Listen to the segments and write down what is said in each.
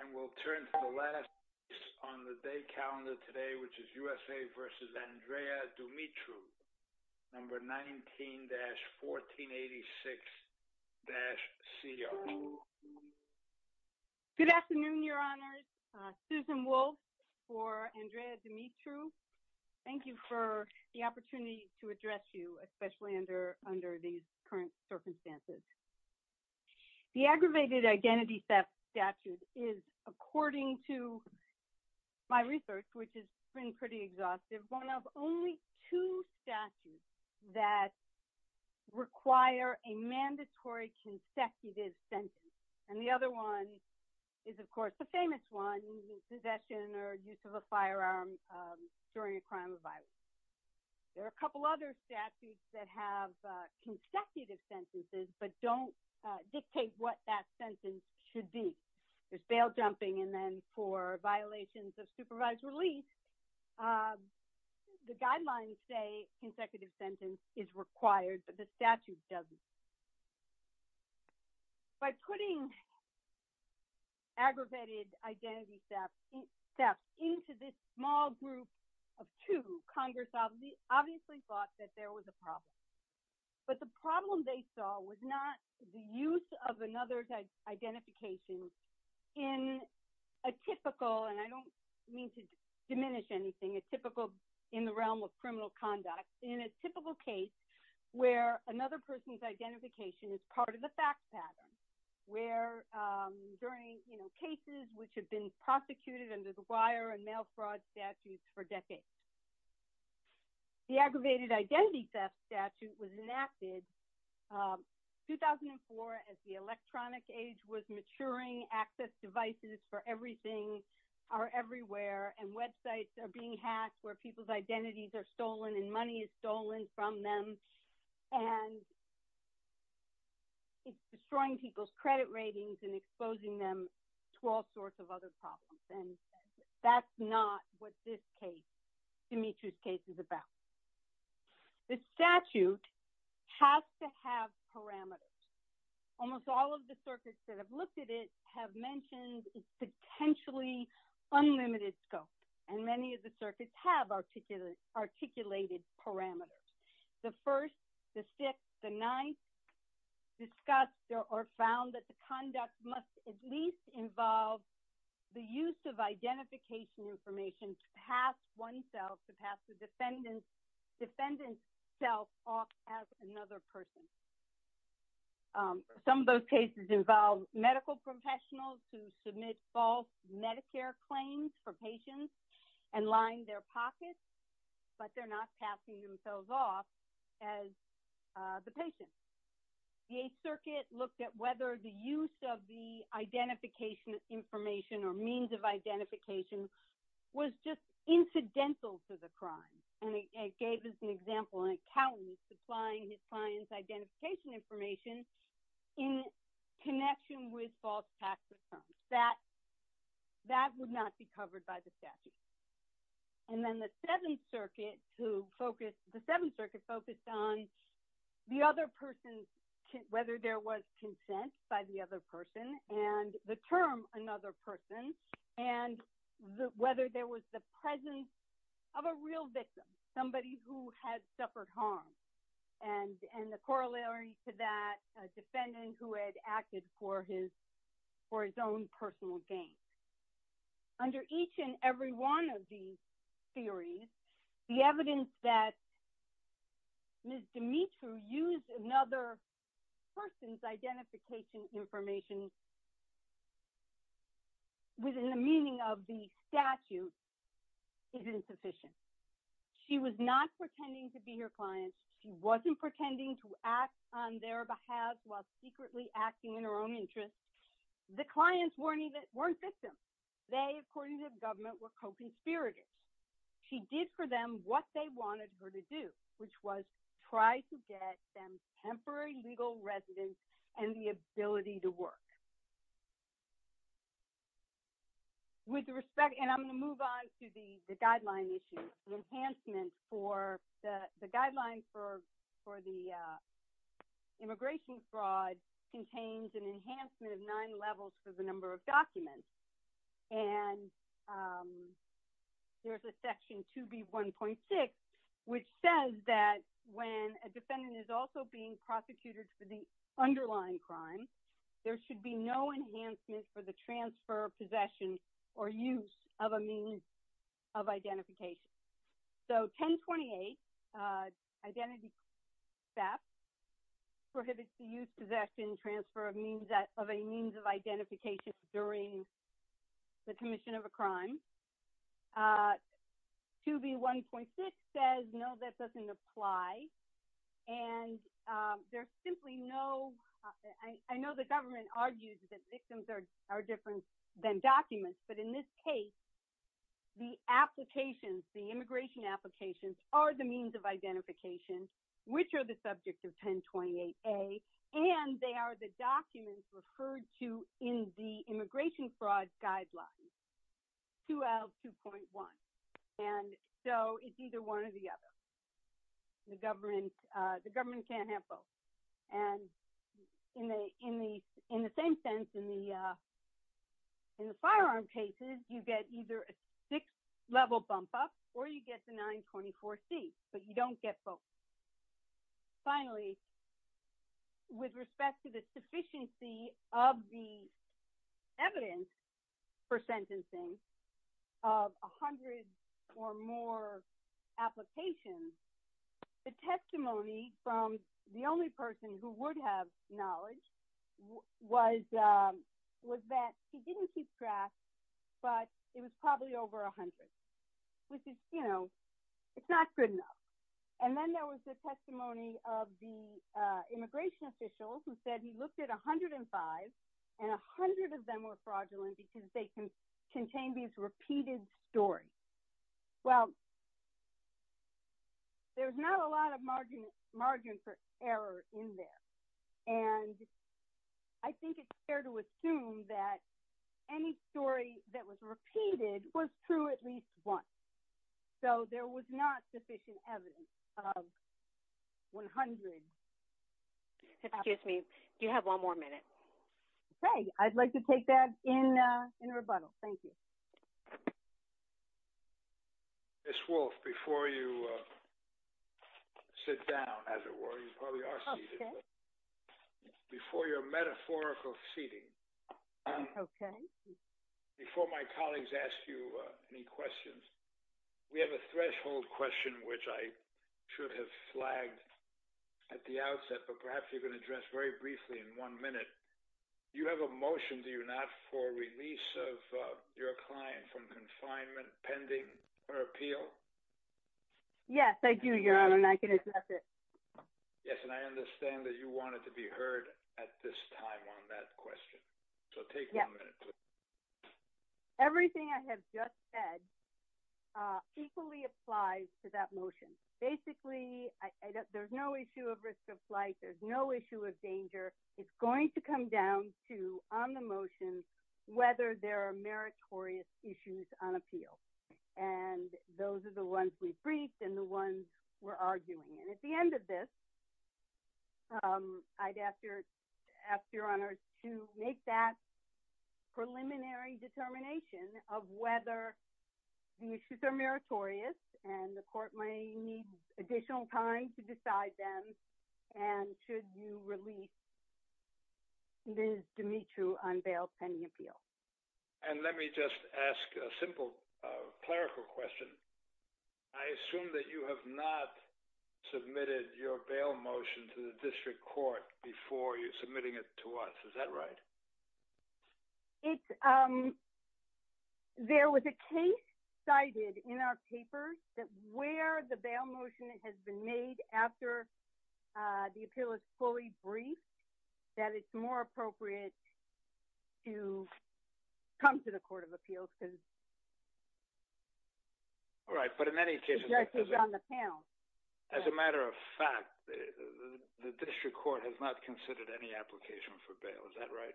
And we'll turn to the last piece on the day calendar today, which is USA versus Andrea Dumitru, number 19-1486-CR. Good afternoon, your honors. Susan Wolf for Andrea Dumitru. Thank you for the opportunity to address you, especially under these current circumstances. The aggravated identity theft statute is, according to my research, which has been pretty exhaustive, one of only two statutes that require a mandatory consecutive sentence. And the other one is, of course, the famous one, possession or use of a firearm during a crime of violence. There are a couple other statutes that have consecutive sentences, but don't dictate what that sentence should be. There's bail jumping, and then for violations of supervised release, the guidelines say consecutive sentence is required, but the statute doesn't. By putting aggravated identity theft into this small group of two, Congress obviously thought that there was a problem. But the problem they saw was not the use of another's identification in a typical, and I don't mean to diminish anything, a typical in the realm of criminal conduct, in a typical case where another person's identification is part of the fact pattern, where during cases which have been prosecuted under the wire and mail fraud statutes for decades. The aggravated identity theft statute was enacted 2004 as the electronic age was maturing, access devices for everything are everywhere, and websites are being hacked where people's identities are stolen and money is stolen from them. And it's destroying people's credit ratings and exposing them to all sorts of other problems. And that's not what this case, Dimitri's case is about. The statute has to have parameters. Almost all of the circuits that have looked at it have mentioned it's potentially unlimited scope. And many of the circuits have articulated parameters. The first, the sixth, the ninth discussed or found that the conduct must at least involve the use of identification information to pass oneself, to pass the defendant's self off as another person. Some of those cases involve medical professionals who submit false Medicare claims for patients and line their pockets, but they're not passing themselves off as the patient. The Eighth Circuit looked at whether the use of the identification information or means of identification was just incidental to the crime. And it gave us an example, an accountant supplying his client's identification information in connection with false tax returns. That would not be covered by the statute. And then the Seventh Circuit focused on the other person, whether there was consent by the other person and the term another person, and whether there was the presence of a real victim, somebody who had suffered harm. And the corollary to that, a defendant who had acted for his own personal gain. Under each and every one of these theories, the evidence that Ms. Demetriou used another person's identification information within the meaning of the statute is insufficient. She was not pretending to be her client. She wasn't pretending to act on their behalf while secretly acting in her own interest. The clients weren't victims. They, according to the government, were co-conspirators. She did for them what they wanted her to do, which was try to get them temporary legal residence and the ability to work. With respect, and I'm gonna move on to the guideline issue, the enhancement for the, the guideline for the immigration fraud contains an enhancement of nine levels for the number of documents. And there's a section 2B1.6, which says that when a defendant is also being prosecuted for the underlying crime, there should be no enhancement for the transfer of possession or use of a means of identification. So 1028, identity theft, prohibits the use, possession, transfer of means, of identification during the commission of a crime. 2B1.6 says, no, that doesn't apply. And there's simply no, I know the government argues that victims are different than documents, but in this case, the applications, the immigration applications are the means of identification, which are the subject of 1028A, and they are the documents referred to in the immigration fraud guidelines, 2L2.1. And so it's either one or the other. The government can't have both. And in the same sense, in the firearm cases, you get either a six level bump up, or you get the 924C, but you don't get both. Finally, with respect to the sufficiency of the evidence for sentencing of a hundred or more applications, the testimony from the only person who would have knowledge was that he didn't keep track, but it was probably over a hundred, which is, you know, it's not good enough. And then there was the testimony of the immigration officials who said he looked at 105, and a hundred of them were fraudulent because they contained these repeated stories. Well, there's not a lot of margin for error in there. And I think it's fair to assume that any story that was repeated was true at least once. So there was not sufficient evidence of 100. Excuse me, do you have one more minute? Okay, I'd like to take that in rebuttal. Thank you. Ms. Wolfe, before you sit down, as it were, you probably are seated. Before your metaphorical seating, okay. Before my colleagues ask you any questions, we have a threshold question, which I should have flagged at the outset, but perhaps you can address very briefly in one minute. You have a motion, do you not, for release of your client from confinement pending her appeal? Yes, I do, Your Honor, and I can address it. Yes, and I understand that you want it to be heard at this time on that question. So take one minute. Everything I have just said equally applies to that motion. Basically, there's no issue of risk of flight, there's no issue of danger. It's going to come down to on the motions whether there are meritorious issues on appeal. And those are the ones we briefed and the ones we're arguing. And at the end of this, I'd ask Your Honor to make that preliminary determination of whether the issues are meritorious and the court may need additional time to decide them. And should you release Ms. Dimitri on bail pending appeal? And let me just ask a simple clerical question. I assume that you have not submitted your bail motion to the district court before you're submitting it to us. Is that right? There was a case cited in our papers that where the bail motion has been made after the appeal is fully briefed, that it's more appropriate to come to the Court of Appeals because the judge is on the panel. As a matter of fact, the district court has not considered any application for bail, is that right?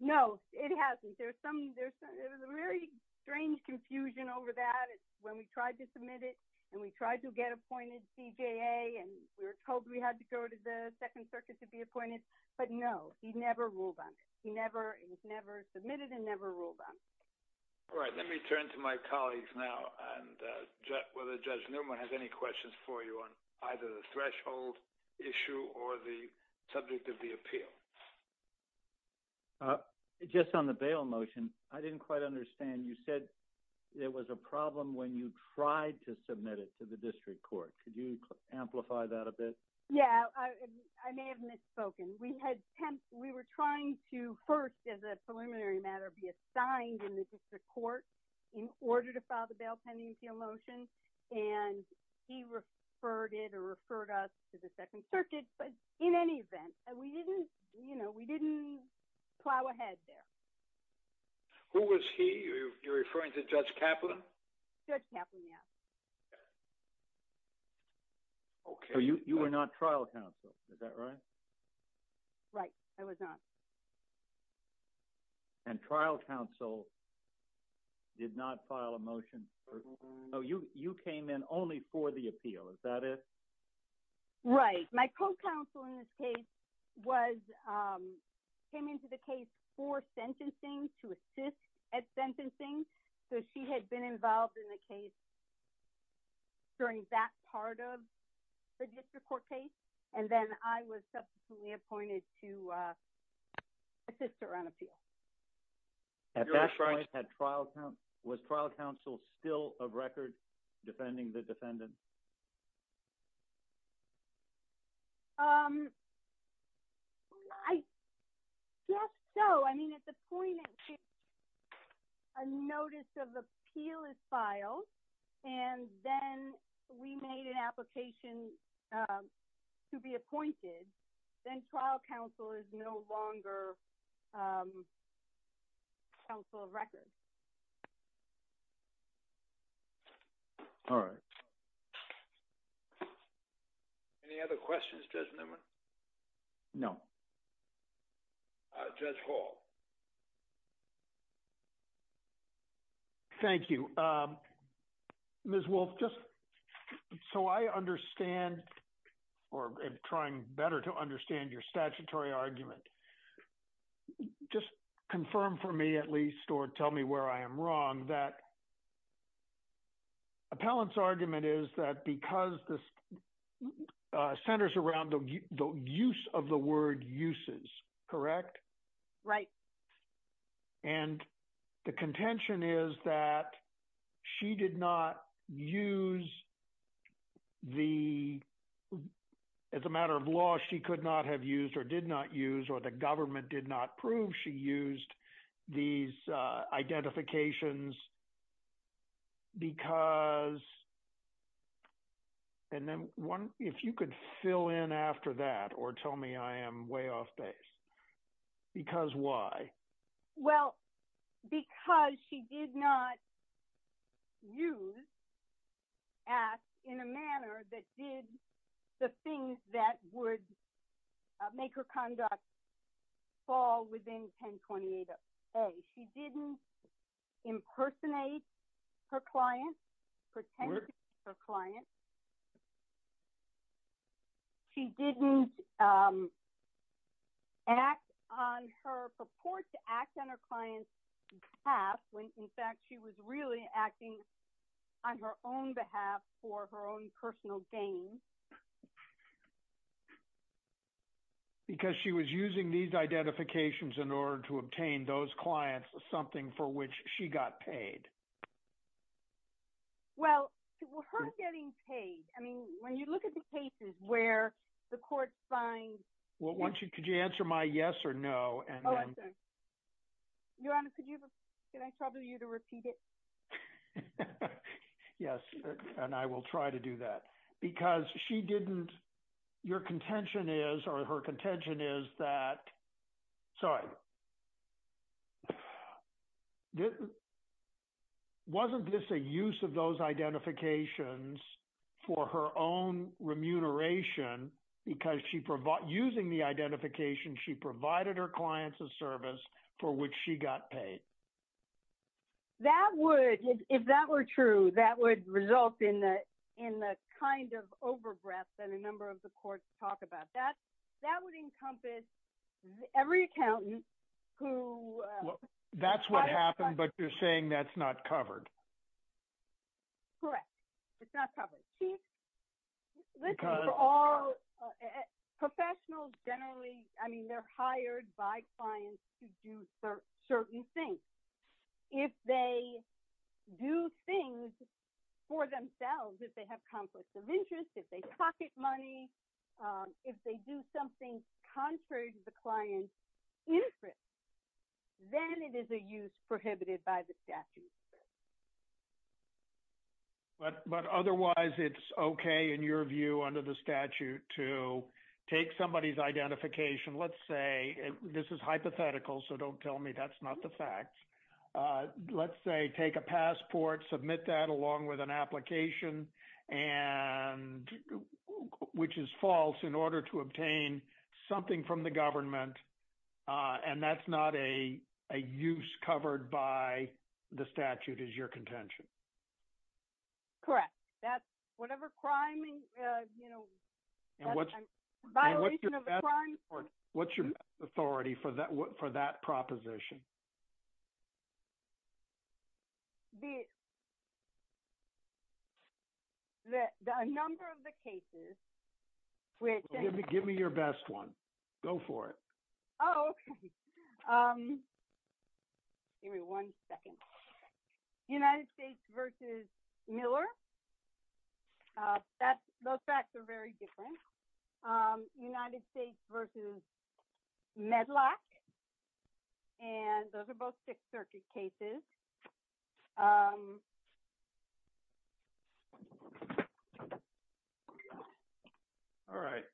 No, it hasn't. There's a very strange confusion over that when we tried to submit it and we tried to get appointed CJA and we were told we had to go to the Second Circuit to be appointed, but no, he never ruled on it. He never, he's never submitted and never ruled on. All right, let me turn to my colleagues now and whether Judge Newman has any questions for you on either the threshold issue or the subject of the appeal. Just on the bail motion, I didn't quite understand. You said there was a problem when you tried to submit it to the district court. Could you amplify that a bit? Yeah, I may have misspoken. We were trying to first, as a preliminary matter, be assigned in the district court in order to file the bail pending appeal motion and he referred it or referred us to the Second Circuit, but in any event, we didn't plow ahead there. Who was he? You're referring to Judge Kaplan? Judge Kaplan, yeah. Okay. So you were not trial counsel, is that right? Right, I was not. And trial counsel did not file a motion? Oh, you came in only for the appeal, is that it? Right, my co-counsel in this case was, came into the case for sentencing to assist at sentencing. So she had been involved in the case during that part of the district court case. And then I was subsequently appointed to assist her on appeal. At that point, was trial counsel still a record defending the defendant? I guess so. I mean, at the point in which a notice of appeal is filed, and then we made an application to be appointed, then trial counsel is no longer counsel of record. All right. Any other questions, Judge Newman? No. Judge Hall. Thank you. Ms. Wolfe, just so I understand, or I'm trying better to understand your statutory argument, just confirm for me at least, or tell me where I am wrong, that appellant's argument is that because this centers around the use of the word uses, correct? Right. And the contention is that she did not use the, as a matter of law, she could not have used or did not use, or the government did not prove she used these identifications because, and then if you could fill in after that or tell me I am way off base. Because why? Well, because she did not use as in a manner that did the things that would make her conduct fall within 1028-A. She didn't impersonate her client, pretend to be her client. She didn't act on her purport to act on her client's path when in fact she was really acting on her own behalf for her own personal gain. Because she was using these identifications in order to obtain those clients, something for which she got paid. Well, her getting paid, I mean, when you look at the cases where the court finds. Well, could you answer my yes or no? Your Honor, could I trouble you to repeat it? Yes, and I will try to do that. Because she didn't, your contention is, or her contention is that, sorry, wasn't this a use of those identifications for her own remuneration? Because using the identification, she provided her clients a service for which she got paid. That would, if that were true, that would result in the kind of over-breath that a number of the courts talk about. That would encompass every accountant who. That's what happened, but you're saying that's not covered. Correct, it's not covered. Chief, listen, for all, professionals generally, I mean, they're hired by clients to do certain things. If they do things for themselves, if they have conflicts of interest, if they pocket money, if they do something contrary to the client's interest, then it is a use prohibited by the statute. But otherwise, it's okay, in your view, under the statute, to take somebody's identification, let's say, this is hypothetical, so don't tell me that's not the fact. Let's say, take a passport, submit that along with an application, which is false, in order to obtain something from the government, and that's not a use covered by the statute, is your contention? Correct, that's whatever crime, violation of a crime. What's your best authority for that proposition? A number of the cases, which- Give me your best one, go for it. Oh, okay, give me one second. United States versus Miller, those facts are very different. United States versus Medlock, and those are both Sixth Circuit cases. All right.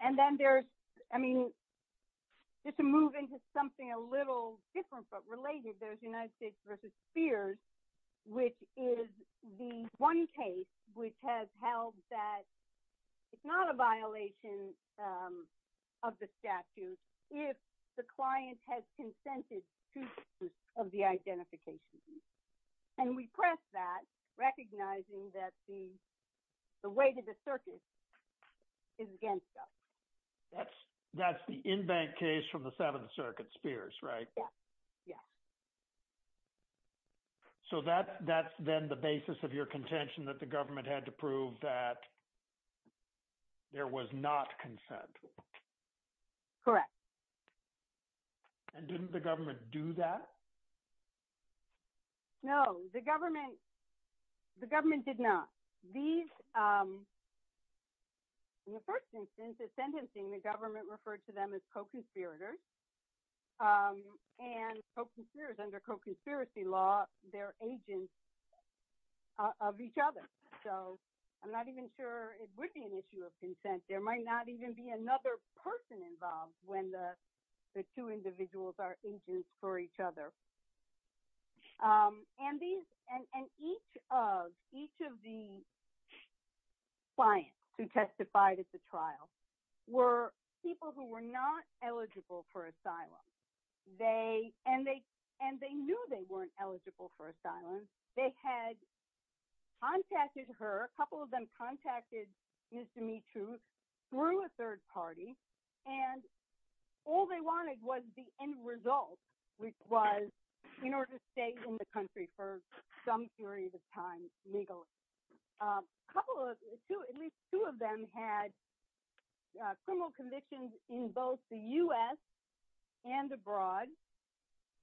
And then there's, I mean, just to move into something a little different, but related, there's United States versus Spears, which is the one case, which has held that it's not a violation of the statute, if the client has consented to the identification. And we press that, recognizing that the way that the circuit is against us. That's the in-bank case from the Seventh Circuit, Spears, right? Yeah. So that's then the basis of your contention that the government had to prove that there was not consent? Correct. And didn't the government do that? No, the government did not. These, in the first instance of sentencing, the government referred to them as co-conspirators, and co-conspirators, under co-conspiracy law, they're agents of each other. So I'm not even sure it would be an issue of consent. There might not even be another person involved when the two individuals are agents for each other. And each of the clients who testified at the trial were people who were not eligible for asylum. And they knew they weren't eligible for asylum. They had contacted her, a couple of them contacted used to meet through a third party. And all they wanted was the end result, which was in order to stay in the country for some period of time legally. Couple of, at least two of them had criminal convictions in both the US and abroad.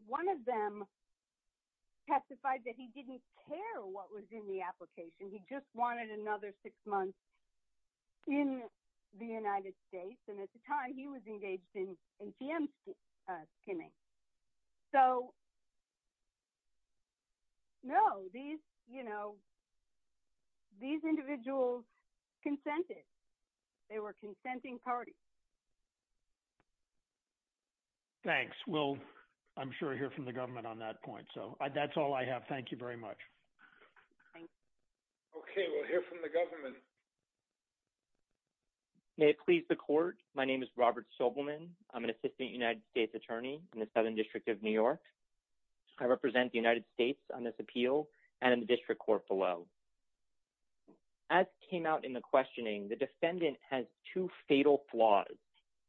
One of them testified that he didn't care what was in the application. And he just wanted another six months in the United States. And at the time he was engaged in ATM skimming. So, no, these individuals consented. They were consenting parties. Thanks, we'll, I'm sure hear from the government on that point. So that's all I have. Thank you very much. Okay, we'll hear from the government. May it please the court. My name is Robert Sobelman. I'm an assistant United States attorney in the Southern District of New York. I represent the United States on this appeal and in the district court below. As came out in the questioning, the defendant has two fatal flaws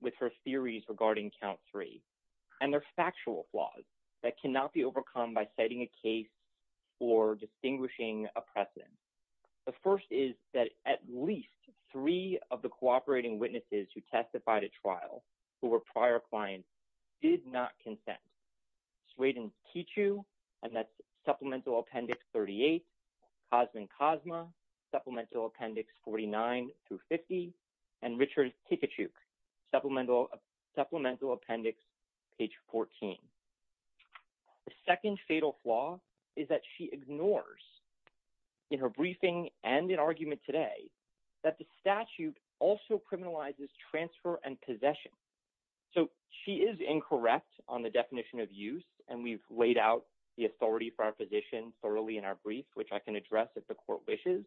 with her theories regarding count three. And they're factual flaws that cannot be overcome by setting a case or distinguishing a precedent. The first is that at least three of the cooperating witnesses who testified at trial who were prior clients did not consent. Sweden Tichou, and that's Supplemental Appendix 38, Cosman Cosma, Supplemental Appendix 49 through 50, and Richard Tikuchuk, Supplemental Appendix page 14. The second fatal flaw is that she ignores in her briefing and in argument today that the statute also criminalizes transfer and possession. So she is incorrect on the definition of use, and we've laid out the authority for our position thoroughly in our brief, which I can address if the court wishes,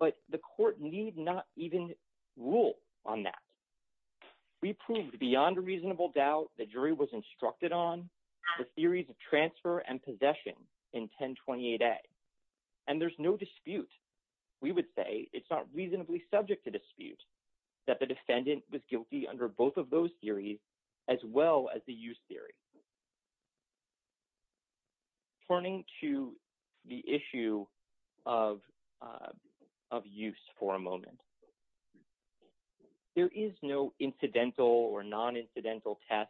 but the court need not even rule on that. the jury was instructed on the theories of transfer and possession in 1028A, and there's no dispute. We would say it's not reasonably subject to dispute that the defendant was guilty under both of those theories as well as the use theory. Turning to the issue of use for a moment, there is no incidental or non-incidental test,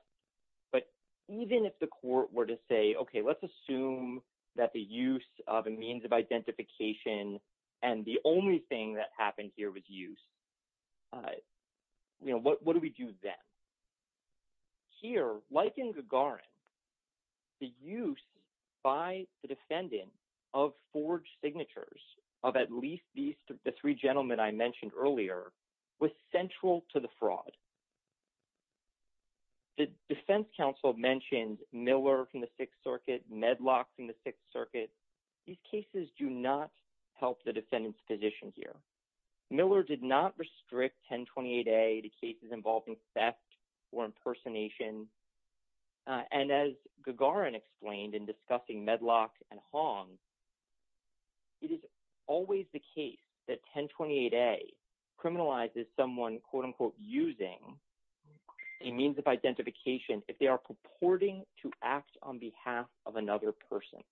but even if the court were to say, okay, let's assume that the use of a means of identification and the only thing that happened here was use, you know, what do we do then? Here, like in Gagarin, the use by the defendant of forged signatures of at least these, was central to the fraud. The defense counsel mentioned Miller from the Sixth Circuit, Medlock from the Sixth Circuit. These cases do not help the defendant's position here. Miller did not restrict 1028A to cases involving theft or impersonation. And as Gagarin explained in discussing Medlock and Hong, it is always the case that 1028A criminalizes someone and quote unquote, using a means of identification if they are purporting to act on behalf of another person.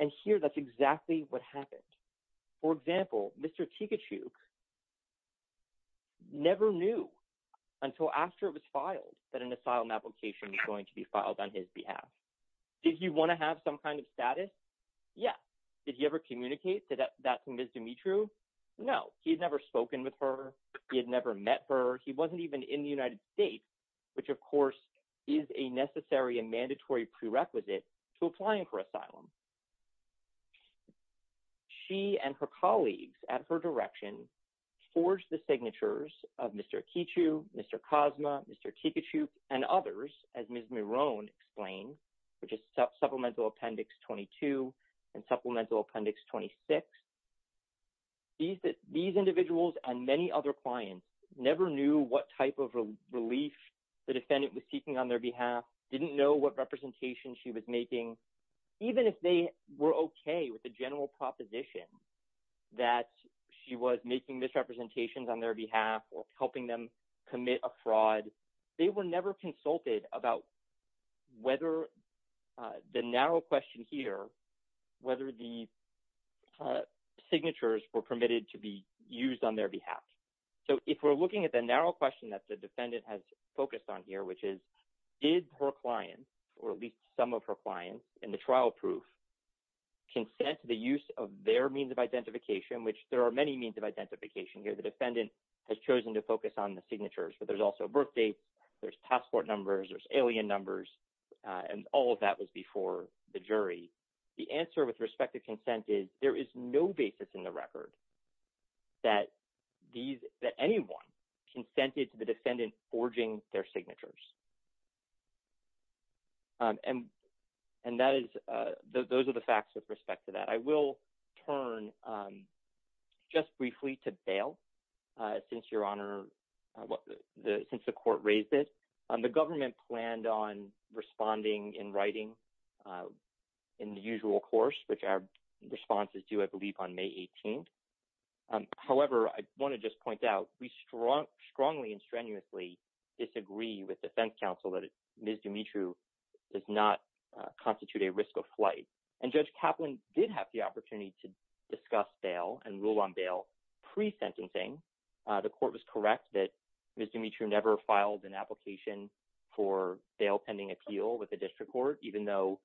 And here, that's exactly what happened. For example, Mr. Tikachuk never knew until after it was filed, that an asylum application was going to be filed on his behalf. Did he wanna have some kind of status? Yeah. Did he ever communicate that to Ms. Dimitro? No, he had never spoken with her. He had never met her. He wasn't even in the United States, which of course is a necessary and mandatory prerequisite to applying for asylum. She and her colleagues at her direction, forged the signatures of Mr. Kichu, Mr. Cosma, Mr. Tikachuk and others, as Ms. Miron explained, which is supplemental appendix 22 and supplemental appendix 26. These individuals and many other clients never knew what type of relief the defendant was seeking on their behalf, didn't know what representation she was making. Even if they were okay with the general proposition that she was making misrepresentations on their behalf or helping them commit a fraud, they were never consulted about whether the narrow question here, whether the signatures were permitted to be used on their behalf. So if we're looking at the narrow question that the defendant has focused on here, which is, did her client, or at least some of her clients in the trial proof, consent to the use of their means of identification, which there are many means of identification here. The defendant has chosen to focus on the signatures, but there's also birth dates, there's passport numbers, there's alien numbers, and all of that was before the jury. The answer with respect to consent is there is no basis in the record that anyone consented to the defendant forging their signatures. And those are the facts with respect to that. I will turn just briefly to bail, since your honor, since the court raised it. The government planned on responding in writing in the usual course, which our responses do, I believe, on May 18th. However, I wanna just point out, we strongly and strenuously disagree with defense counsel that Ms. Dimitri does not constitute a risk of flight. And Judge Kaplan did have the opportunity to discuss bail and rule on bail pre-sentencing. The court was correct that Ms. Dimitri never filed an application for bail pending appeal with the district court, even though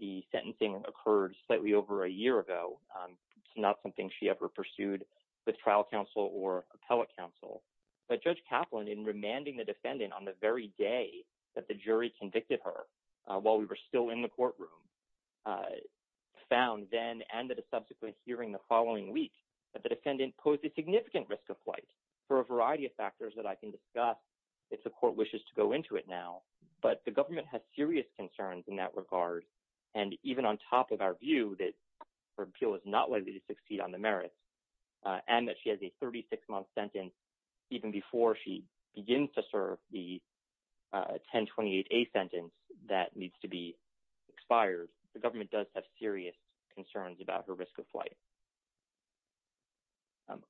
the sentencing occurred slightly over a year ago. It's not something she ever pursued with trial counsel or appellate counsel. But Judge Kaplan, in remanding the defendant on the very day that the jury convicted her while we were still in the courtroom, found then and at a subsequent hearing the following week that the defendant posed a significant risk of flight for a variety of factors that I can discuss if the court wishes to go into it now. But the government has serious concerns in that regard. And even on top of our view that her appeal is not likely to succeed on the merits and that she has a 36 month sentence even before she begins to serve the 1028A sentence that needs to be expired, the government does have serious concerns about her risk of flight.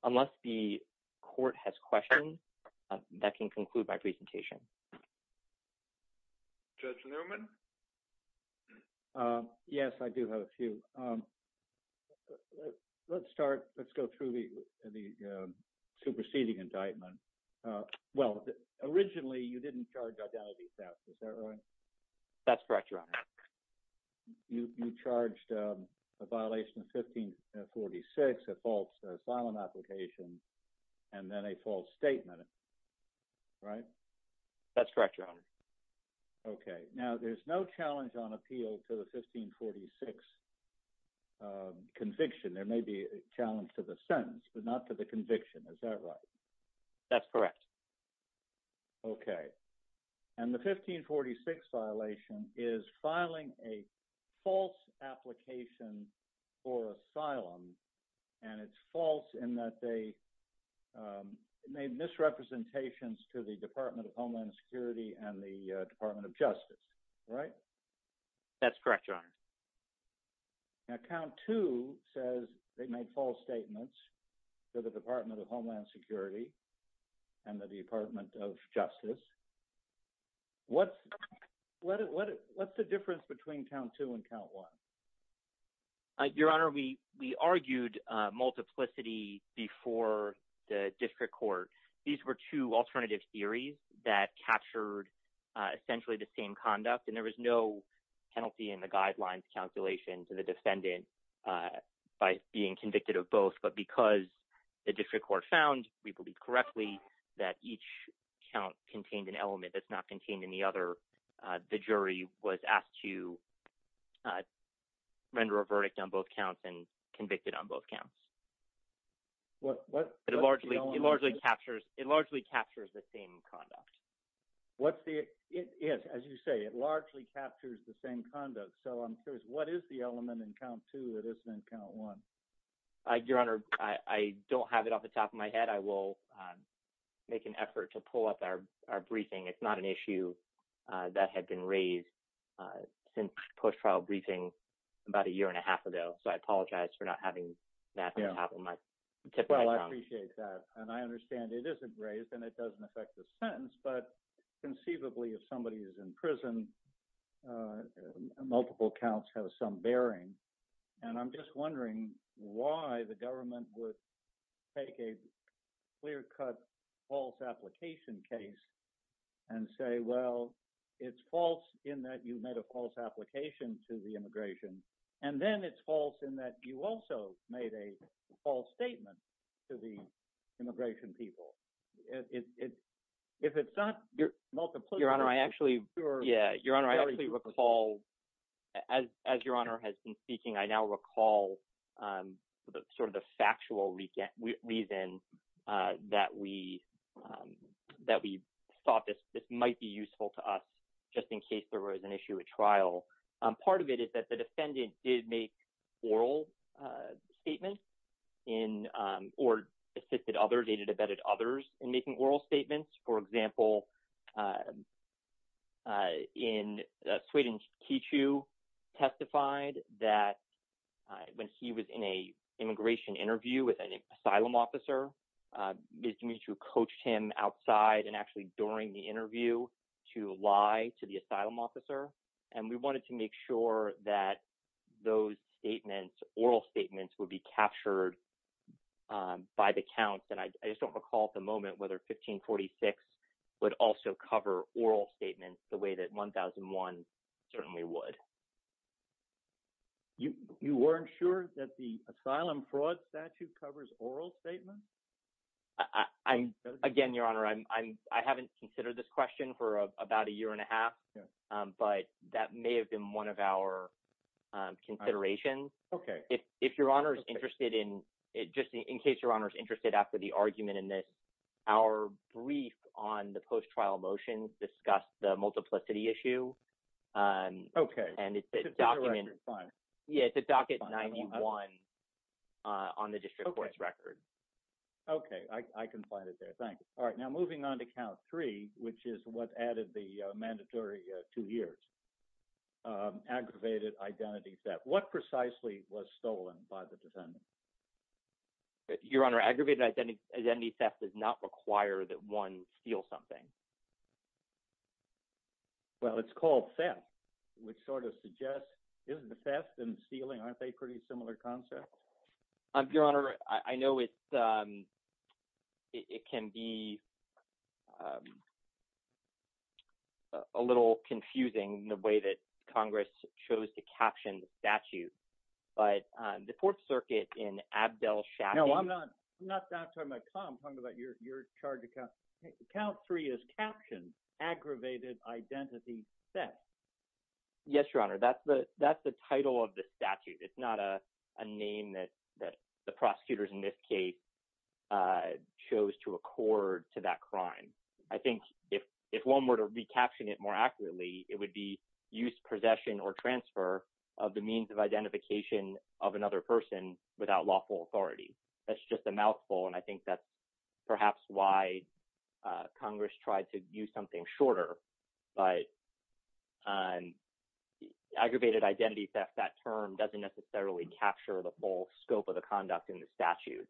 Unless the court has questions, that can conclude my presentation. Thank you. Judge Newman. Yes, I do have a few. Let's start, let's go through the superseding indictment. Well, originally you didn't charge identity theft, is that right? That's correct, Your Honor. You charged a violation of 1546, a false asylum application, and then a false statement, right? That's correct, Your Honor. Okay, now there's no challenge on appeal to the 1546 conviction. There may be a challenge to the sentence, but not to the conviction, is that right? That's correct. Okay, and the 1546 violation is filing a false application for asylum. And it's false in that they made misrepresentations to the Department of Homeland Security and the Department of Justice, right? That's correct, Your Honor. Now, count two says they made false statements to the Department of Homeland Security and the Department of Justice. What's the difference between count two and count one? Your Honor, we argued multiplicity before the district court. These were two alternative theories that captured essentially the same conduct. And there was no penalty in the guidelines, calculations of the defendant by being convicted of both. But because the district court found, we believe correctly, that each count contained an element that's not contained in the other, the jury was asked to render a verdict on both counts and convicted on both counts. What's the element? It largely captures the same conduct. Yes, as you say, it largely captures the same conduct. So I'm curious, what is the element in count two that isn't in count one? Your Honor, I don't have it off the top of my head. I will make an effort to pull up our briefing. It's not an issue that had been raised since post-trial briefing about a year and a half ago. So I apologize for not having that on top of my mind. Well, I appreciate that. And I understand it isn't raised and it doesn't affect the sentence, but conceivably, if somebody is in prison, multiple counts have some bearing. And I'm just wondering why the government would take a clear-cut false application case and say, well, it's false in that you made a false application to the immigration. And then it's false in that you also made a false statement to the immigration people. If it's not multiple- Your Honor, I actually, yeah. Your Honor, I actually recall, as Your Honor has been speaking, I now recall sort of the factual reason that we thought this might be useful to us just in case there was an issue at trial. Part of it is that the defendant did make oral statements or assisted others, they did abetted others in making oral statements. For example, in Sweden, Kichu testified that when he was in a immigration interview with an asylum officer, Ms. Demetriou coached him outside and actually during the interview to lie to the asylum officer. And we wanted to make sure that those statements, oral statements would be captured by the counts. And I just don't recall at the moment whether 1546 would also cover oral statements the way that 1001 certainly would. You weren't sure that the asylum fraud statute covers oral statements? Again, Your Honor, I haven't considered this question for about a year and a half, but that may have been one of our considerations. Okay. If Your Honor is interested in, just in case Your Honor is interested after the argument in this, our brief on the post-trial motions discussed the multiplicity issue. Okay. And it's a document. Yeah, it's a docket 91 on the district court's record. Okay, I can find it there, thank you. All right, now moving on to count three, which is what added the mandatory two years, aggravated identity theft. What precisely was stolen by the defendant? Your Honor, aggravated identity theft does not require that one steal something. Well, it's called theft, which sort of suggests, isn't the theft and stealing, aren't they pretty similar concepts? Your Honor, I know it can be, a little confusing the way that Congress chose to caption the statute, but the fourth circuit in Abdel Shafi- No, I'm not talking about your charge account. Count three is captioned, aggravated identity theft. Yes, Your Honor, that's the title of the statute. It's not a name that the prosecutors in this case chose to accord to that crime. I think if one were to recaption it more accurately, it would be used possession or transfer of the means of identification of another person without lawful authority. That's just a mouthful, and I think that's perhaps why Congress tried to use something shorter, but aggravated identity theft, that term doesn't necessarily capture the full scope of the conduct in the statute.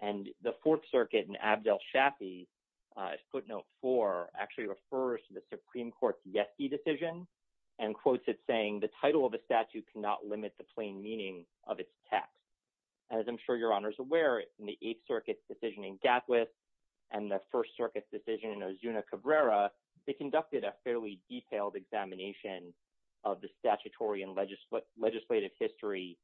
And the fourth circuit in Abdel Shafi footnote four actually refers to the Supreme Court's Yeski decision and quotes it saying the title of the statute cannot limit the plain meaning of its text. As I'm sure Your Honor is aware, in the eighth circuit decision in Gatwitz and the first circuit decision in Ozuna Cabrera, they conducted a fairly detailed examination of the statutory and legislative history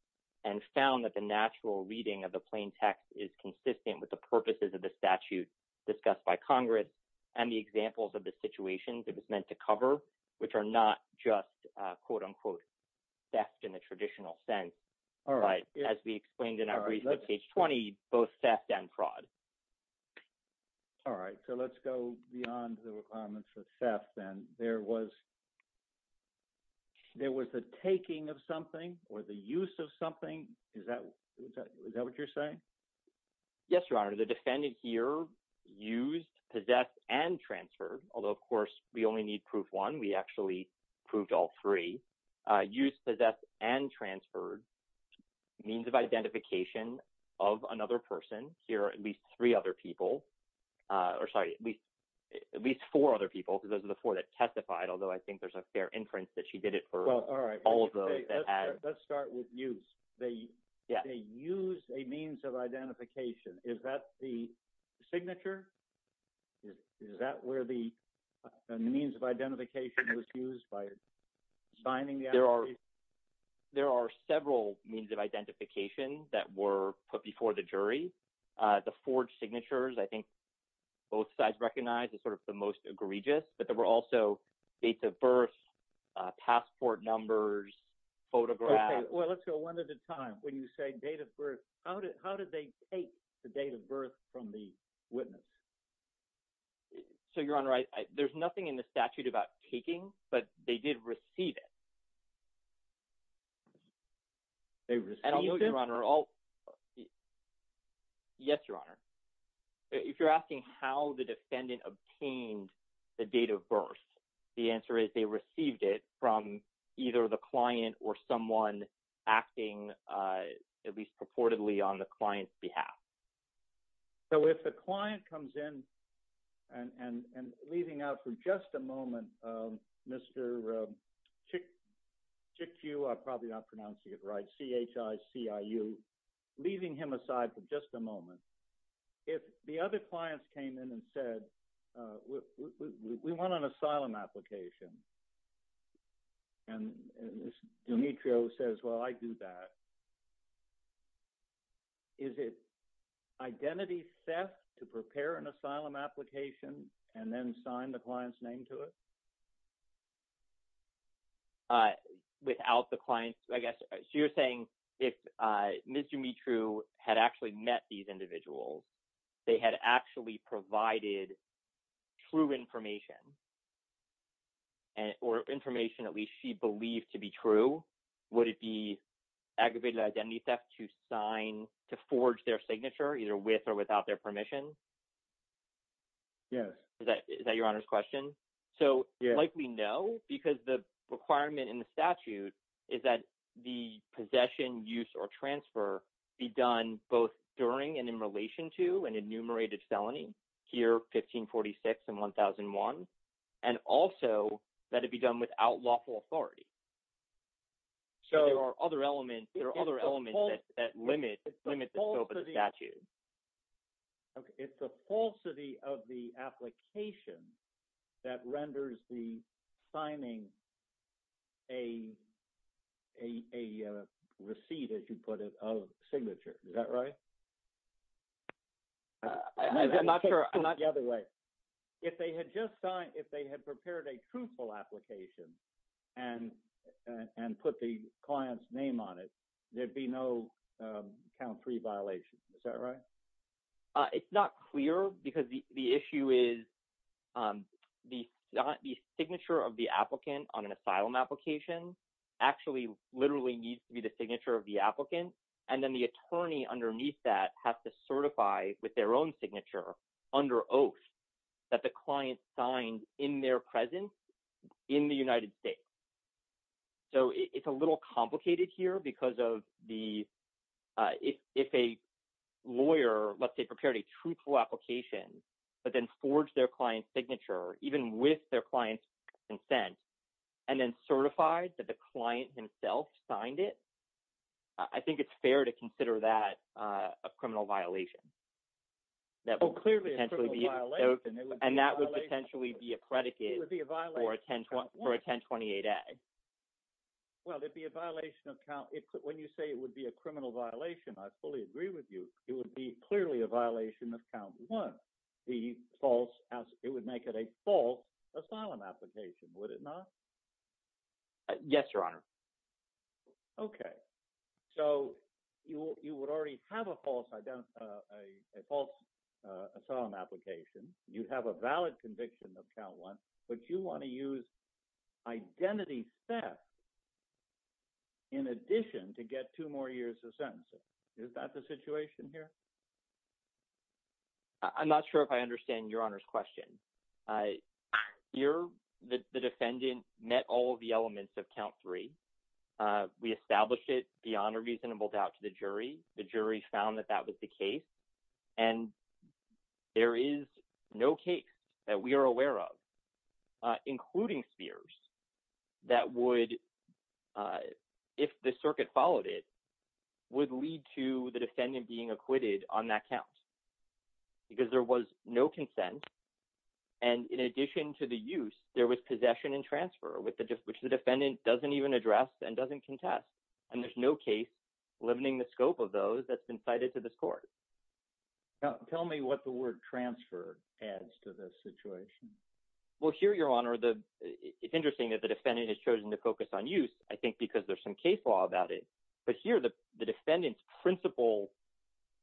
and found that the natural reading of the plain text is consistent with the purposes of the statute, discussed by Congress, and the examples of the situations it was meant to cover, which are not just, quote unquote, theft in the traditional sense. All right, as we explained in our brief on page 20, both theft and fraud. All right, so let's go beyond the requirements of theft, and there was the taking of something or the use of something, is that what you're saying? Yes, Your Honor, the defendant here used, possessed, and transferred, although of course we only need proof one, we actually proved all three. Used, possessed, and transferred means of identification of another person. Here are at least three other people, or sorry, at least four other people, because those are the four that testified, although I think there's a fair inference that she did it for all of those that had. Let's start with used. They used a means of identification. Is that the signature? Is that where the means of identification was used by signing the application? There are several means of identification that were put before the jury. The forged signatures, I think both sides recognize as sort of the most egregious, but there were also dates of birth, passport numbers, photographs. Well, let's go one at a time. When you say date of birth, how did they take the date of birth from the witness? So Your Honor, there's nothing in the statute about taking, but they did receive it. They received it? And I'll note, Your Honor, yes, Your Honor. If you're asking how the defendant obtained the date of birth, the answer is they received it from either the client or someone acting, at least purportedly, on the client's behalf. So if the client comes in, and leaving out for just a moment, Mr. Chikiu, I'm probably not pronouncing it right, C-H-I-C-I-U, leaving him aside for just a moment, if the other clients came in and said, we want an asylum application, and Ms. Dumitru says, well, I do that, is it identity theft to prepare an asylum application and then sign the client's name to it? Without the client's, I guess, so you're saying if Ms. Dumitru had actually met these individuals, they had actually provided true information, or information, at least, she believed to be true, would it be aggravated identity theft to sign, to forge their signature, either with or without their permission? Yes. Is that Your Honor's question? So likely no, because the requirement in the statute is that the possession, use, or transfer be done both during and in relation to an enumerated felony, here, 1546 and 1001. And also, that it be done without lawful authority. So there are other elements that limit the scope of the statute. Okay, it's the falsity of the application that renders the signing a receipt, as you put it, of signature, is that right? I'm not sure. I'm not the other way. If they had just signed, if they had prepared a truthful application, and put the client's name on it, there'd be no count three violation, is that right? It's not clear, because the issue is, the signature of the applicant on an asylum application actually literally needs to be the signature of the applicant, and then the attorney underneath that has to certify with their own signature, under oath, that the client signed in their presence in the United States. So it's a little complicated here, because if a lawyer, let's say, prepared a truthful application, but then forged their client's signature, even with their client's consent, and then certified that the client himself signed it, I think it's fair to consider that a criminal violation. That would potentially be- Oh, clearly a criminal violation. And that would potentially be a predicate for a 1028-A. Well, it'd be a violation of count, when you say it would be a criminal violation, I fully agree with you. It would be clearly a violation of count one, the false, it would make it a false asylum application, would it not? Yes, Your Honor. Okay. So you would already have a false asylum application, you'd have a valid conviction of count one, but you wanna use identity theft in addition to get two more years of sentencing. Is that the situation here? I'm not sure if I understand Your Honor's question. You're the defendant met all of the elements of count three, we established it beyond a reasonable doubt to the jury, the jury found that that was the case, and there is no case that we are aware of, including Spears, that would, if the circuit followed it, would lead to the defendant being acquitted on that count. Because there was no consent, and in addition to the use, there was possession and transfer, which the defendant doesn't even address and doesn't contest. And there's no case limiting the scope of those that's been cited to this court. Tell me what the word transfer adds to this situation. Well, here, Your Honor, it's interesting that the defendant has chosen to focus on use, I think because there's some case law about it. But here, the defendant's principal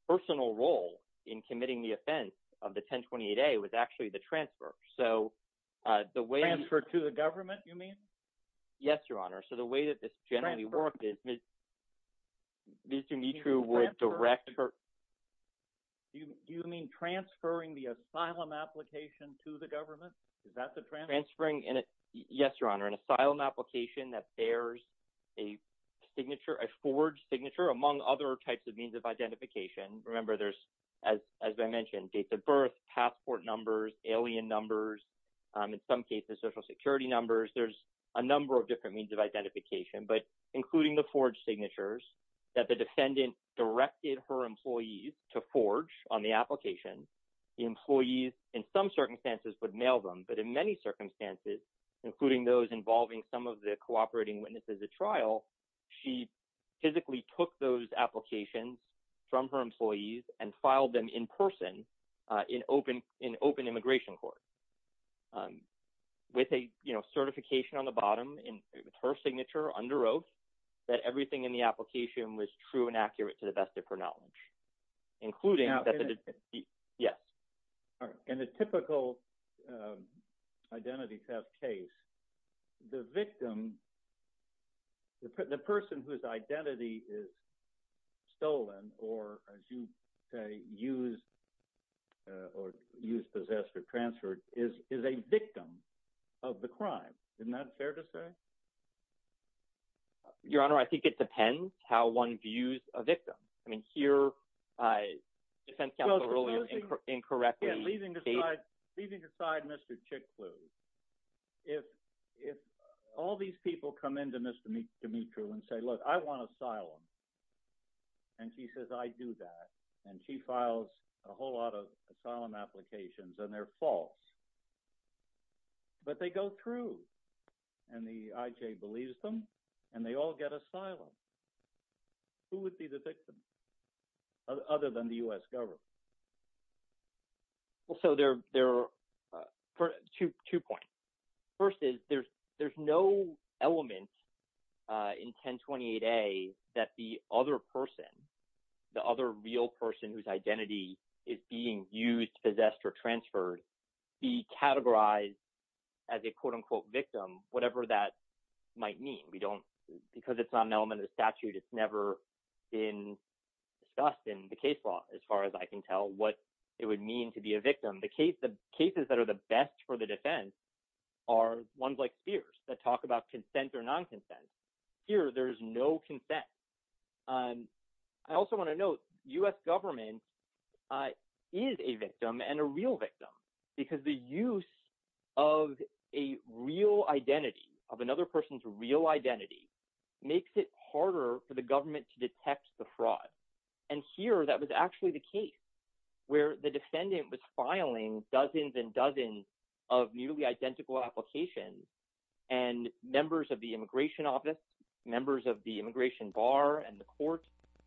personal role in committing the offense of the 1028A was actually the transfer. So the way- To the government, you mean? Yes, Your Honor. So the way that this generally worked is, Mr. Mitra would direct her- You mean transferring the asylum application to the government? Is that the transfer? Transferring, yes, Your Honor, an asylum application that bears a signature, a forged signature, among other types of means of identification. Remember, there's, as I mentioned, dates of birth, passport numbers, alien numbers, in some cases, Social Security numbers. There's a number of different means of identification, but including the forged signatures that the defendant directed her employees to forge on the application, the employees, in some circumstances, would mail them. But in many circumstances, including those involving some of the cooperating witnesses at trial, she physically took those applications from her employees and filed them in person in open immigration court with a certification on the bottom, and her signature underwrote that everything in the application was true and accurate to the best of her knowledge, including that the- Now, in a- Yes. All right, in a typical identity theft case, the victim, the person whose identity is stolen, or, as you say, used, or used, possessed, or transferred, is a victim of the crime. Isn't that fair to say? Your Honor, I think it depends how one views a victim. I mean, here, defense counsel earlier incorrectly stated- Yeah, leaving aside Mr. Chiklue, if all these people come in to Ms. Dimitro and say, look, I want asylum, and she says, I do that, and she files a whole lot of asylum applications, and they're false, but they go through, and the IJ believes them, and they all get asylum, who would be the victim, other than the U.S. government? Well, so there are two points. First is there's no element in 1028A that the other person, the other real person whose identity is being used, possessed, or transferred, be categorized as a quote-unquote victim, whatever that might mean. Because it's not an element of the statute, it's never been discussed in the case law, as far as I can tell, what it would mean to be a victim. The cases that are the best for the defense are ones like Spears, that talk about consent or non-consent. Here, there's no consent. I also wanna note, U.S. government is a victim and a real victim, because the use of a real identity, of another person's real identity, makes it harder for the government to detect the fraud. And here, that was actually the case, where the defendant was filing dozens and dozens of nearly identical applications, and members of the immigration office, members of the immigration bar and the court,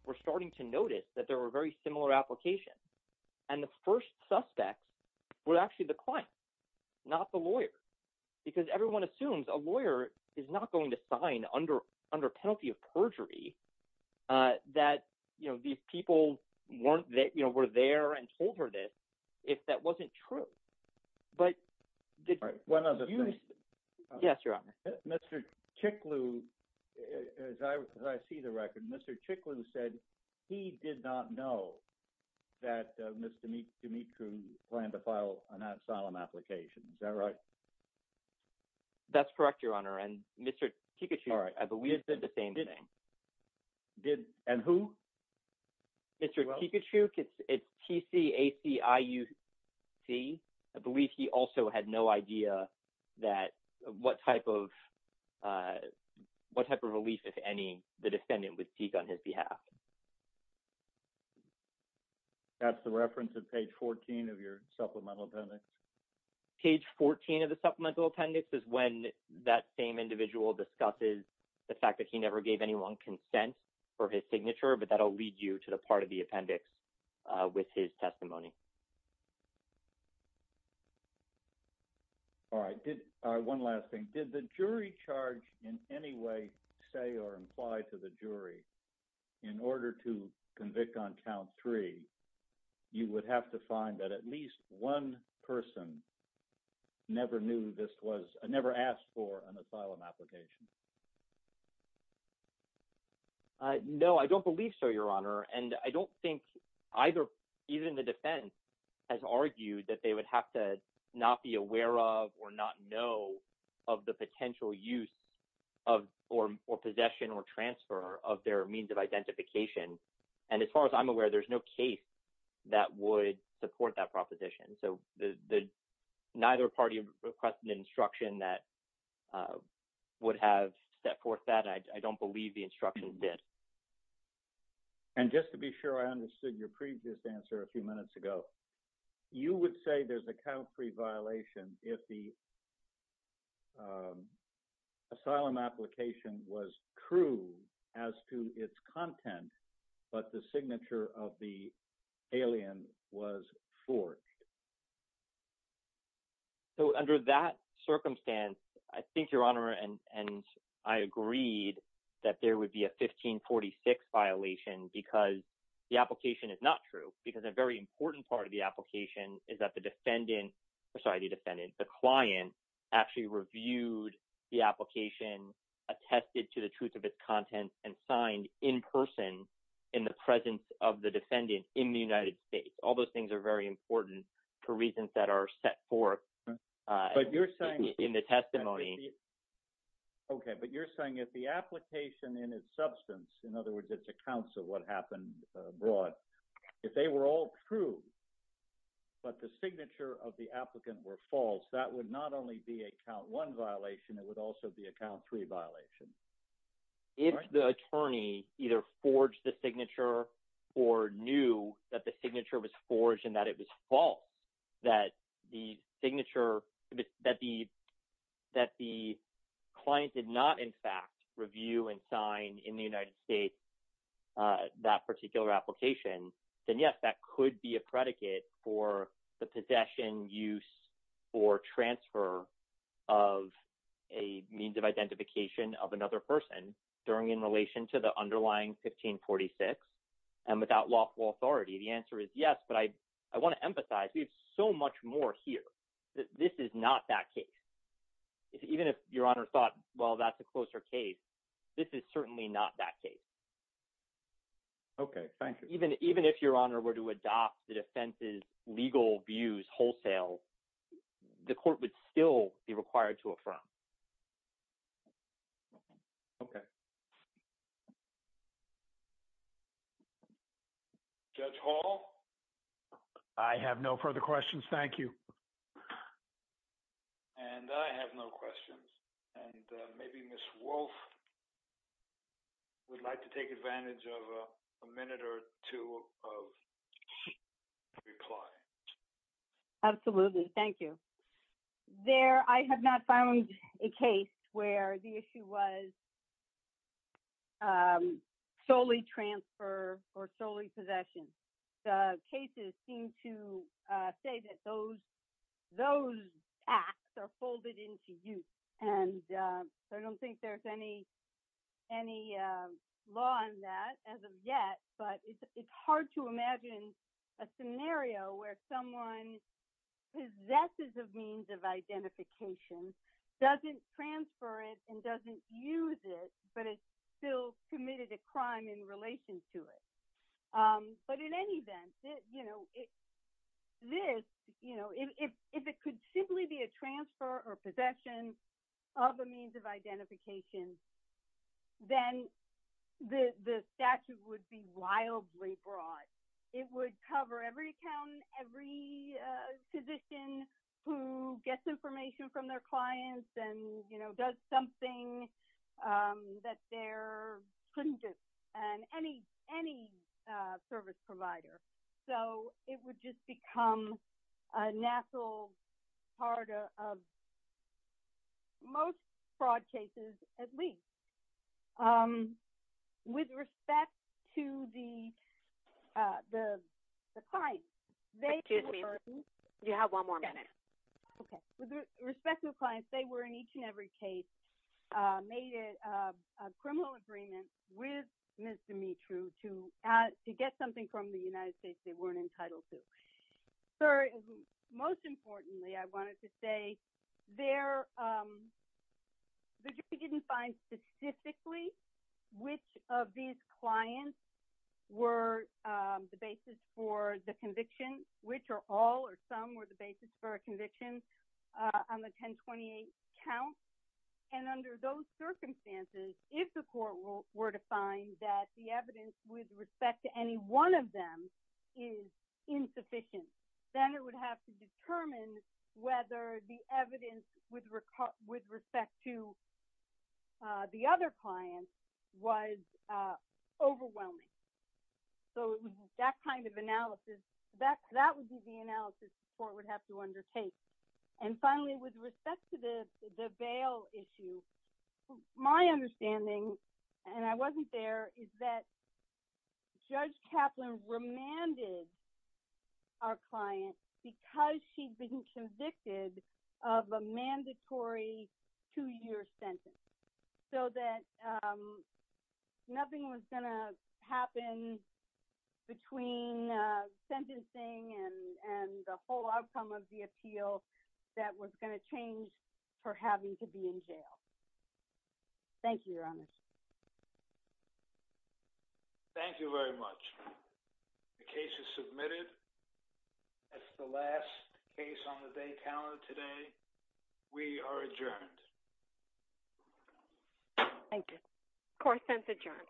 were starting to notice that there were very similar applications. And the first suspects were actually the client, not the lawyer. Because everyone assumes a lawyer is not going to sign under penalty of perjury, that these people were there and told her this, if that wasn't true. But- One other thing. Yes, Your Honor. Mr. Cichlou, as I see the record, Mr. Cichlou said he did not know that Mr. D'Amico planned to file an asylum application. Is that right? That's correct, Your Honor. And Mr. Kikuchuk, I believe, did the same thing. And who? Mr. Kikuchuk, it's T-C-A-C-I-U-C. I believe he also had no idea that, what type of relief, if any, the defendant would seek on his behalf. That's the reference of page 14 of your supplemental appendix. Page 14 of the supplemental appendix is when that same individual discusses the fact that he never gave anyone consent for his signature, but that'll lead you to the part of the appendix with his testimony. All right, one last thing. Did the jury charge in any way say or imply to the jury in order to convict on count three, you would have to find that at least one person never knew this was, never asked for an asylum application? No, I don't believe so, Your Honor. And I don't think either, even the defense has argued that they would have to not be aware of or not know of the potential use of, or possession or transfer of their means of identification. And as far as I'm aware, there's no case that would support that proposition. that would have a case that would support that proposition. I don't believe the instructions did. And just to be sure I understood your previous answer a few minutes ago. You would say there's a count three violation if the asylum application was true as to its content, but the signature of the alien was forged. So under that circumstance, I think Your Honor and I agreed that there would be a 1546 violation because the application is not true because a very important part of the application is that the defendant, sorry, the defendant, the client actually reviewed the application, attested to the truth of its content and signed in person in the presence of the defendant in the United States. All those things are very important for reasons that are set forth in the testimony. Okay, but you're saying if the application in its substance, in other words, it's accounts of what happened abroad, if they were all true, but the signature of the applicant were false, that would not only be a count one violation, it would also be a count three violation. If the attorney either forged the signature or knew that the signature was forged and that it was false, that the signature, that the client did not, in fact, review and sign in the United States that particular application, then yes, that could be a predicate for the possession, use or transfer of a means of identification of another person during in relation to the underlying 1546 and without lawful authority. The answer is yes, but I wanna emphasize, we have so much more here, that this is not that case. Even if your honor thought, well, that's a closer case, this is certainly not that case. Okay, thank you. Even if your honor were to adopt the defense's legal views wholesale, the court would still be required to affirm. Okay. Judge Hall. I have no further questions, thank you. And I have no questions. And maybe Ms. Wolf would like to take advantage of a minute or two of reply. Absolutely, thank you. There, I have not found a case where the issue was solely transfer or solely possession. The cases seem to say that those acts are folded into use. And I don't think there's any law on that as of yet, but it's hard to imagine a scenario where someone possesses a means of identification, doesn't transfer it and doesn't use it, but it's still committed a crime in relation to it. But in any event, if it could simply be a transfer or possession of a means of identification, then the statute would be wildly broad. It would cover every accountant, every physician who gets information from their clients and does something that they couldn't do. And any service provider. So it would just become a natural part of most fraud cases, at least. With respect to the clients, they- Excuse me, you have one more minute. Okay, with respect to the clients, they were in each and every case, made a criminal agreement with Ms. Dimitri to get something from the United States they weren't entitled to. So most importantly, I wanted to say, the jury didn't find specifically which of these clients were the basis for the conviction, which are all or some were the basis for a conviction on the 1028 count. And under those circumstances, if the court were to find that the evidence with respect to any one of them is insufficient, then it would have to determine whether the evidence with respect to the other clients was overwhelming. So that kind of analysis, that would be the analysis the court would have to undertake. And finally, with respect to the bail issue, my understanding, and I wasn't there, is that Judge Kaplan remanded our client because she'd been convicted of a mandatory two-year sentence. So that nothing was gonna happen between sentencing and the whole outcome of the appeal that was gonna change for having to be in jail. Thank you, Your Honor. Thank you very much. The case is submitted. That's the last case on the day calendar today. We are adjourned. Thank you. Court is adjourned.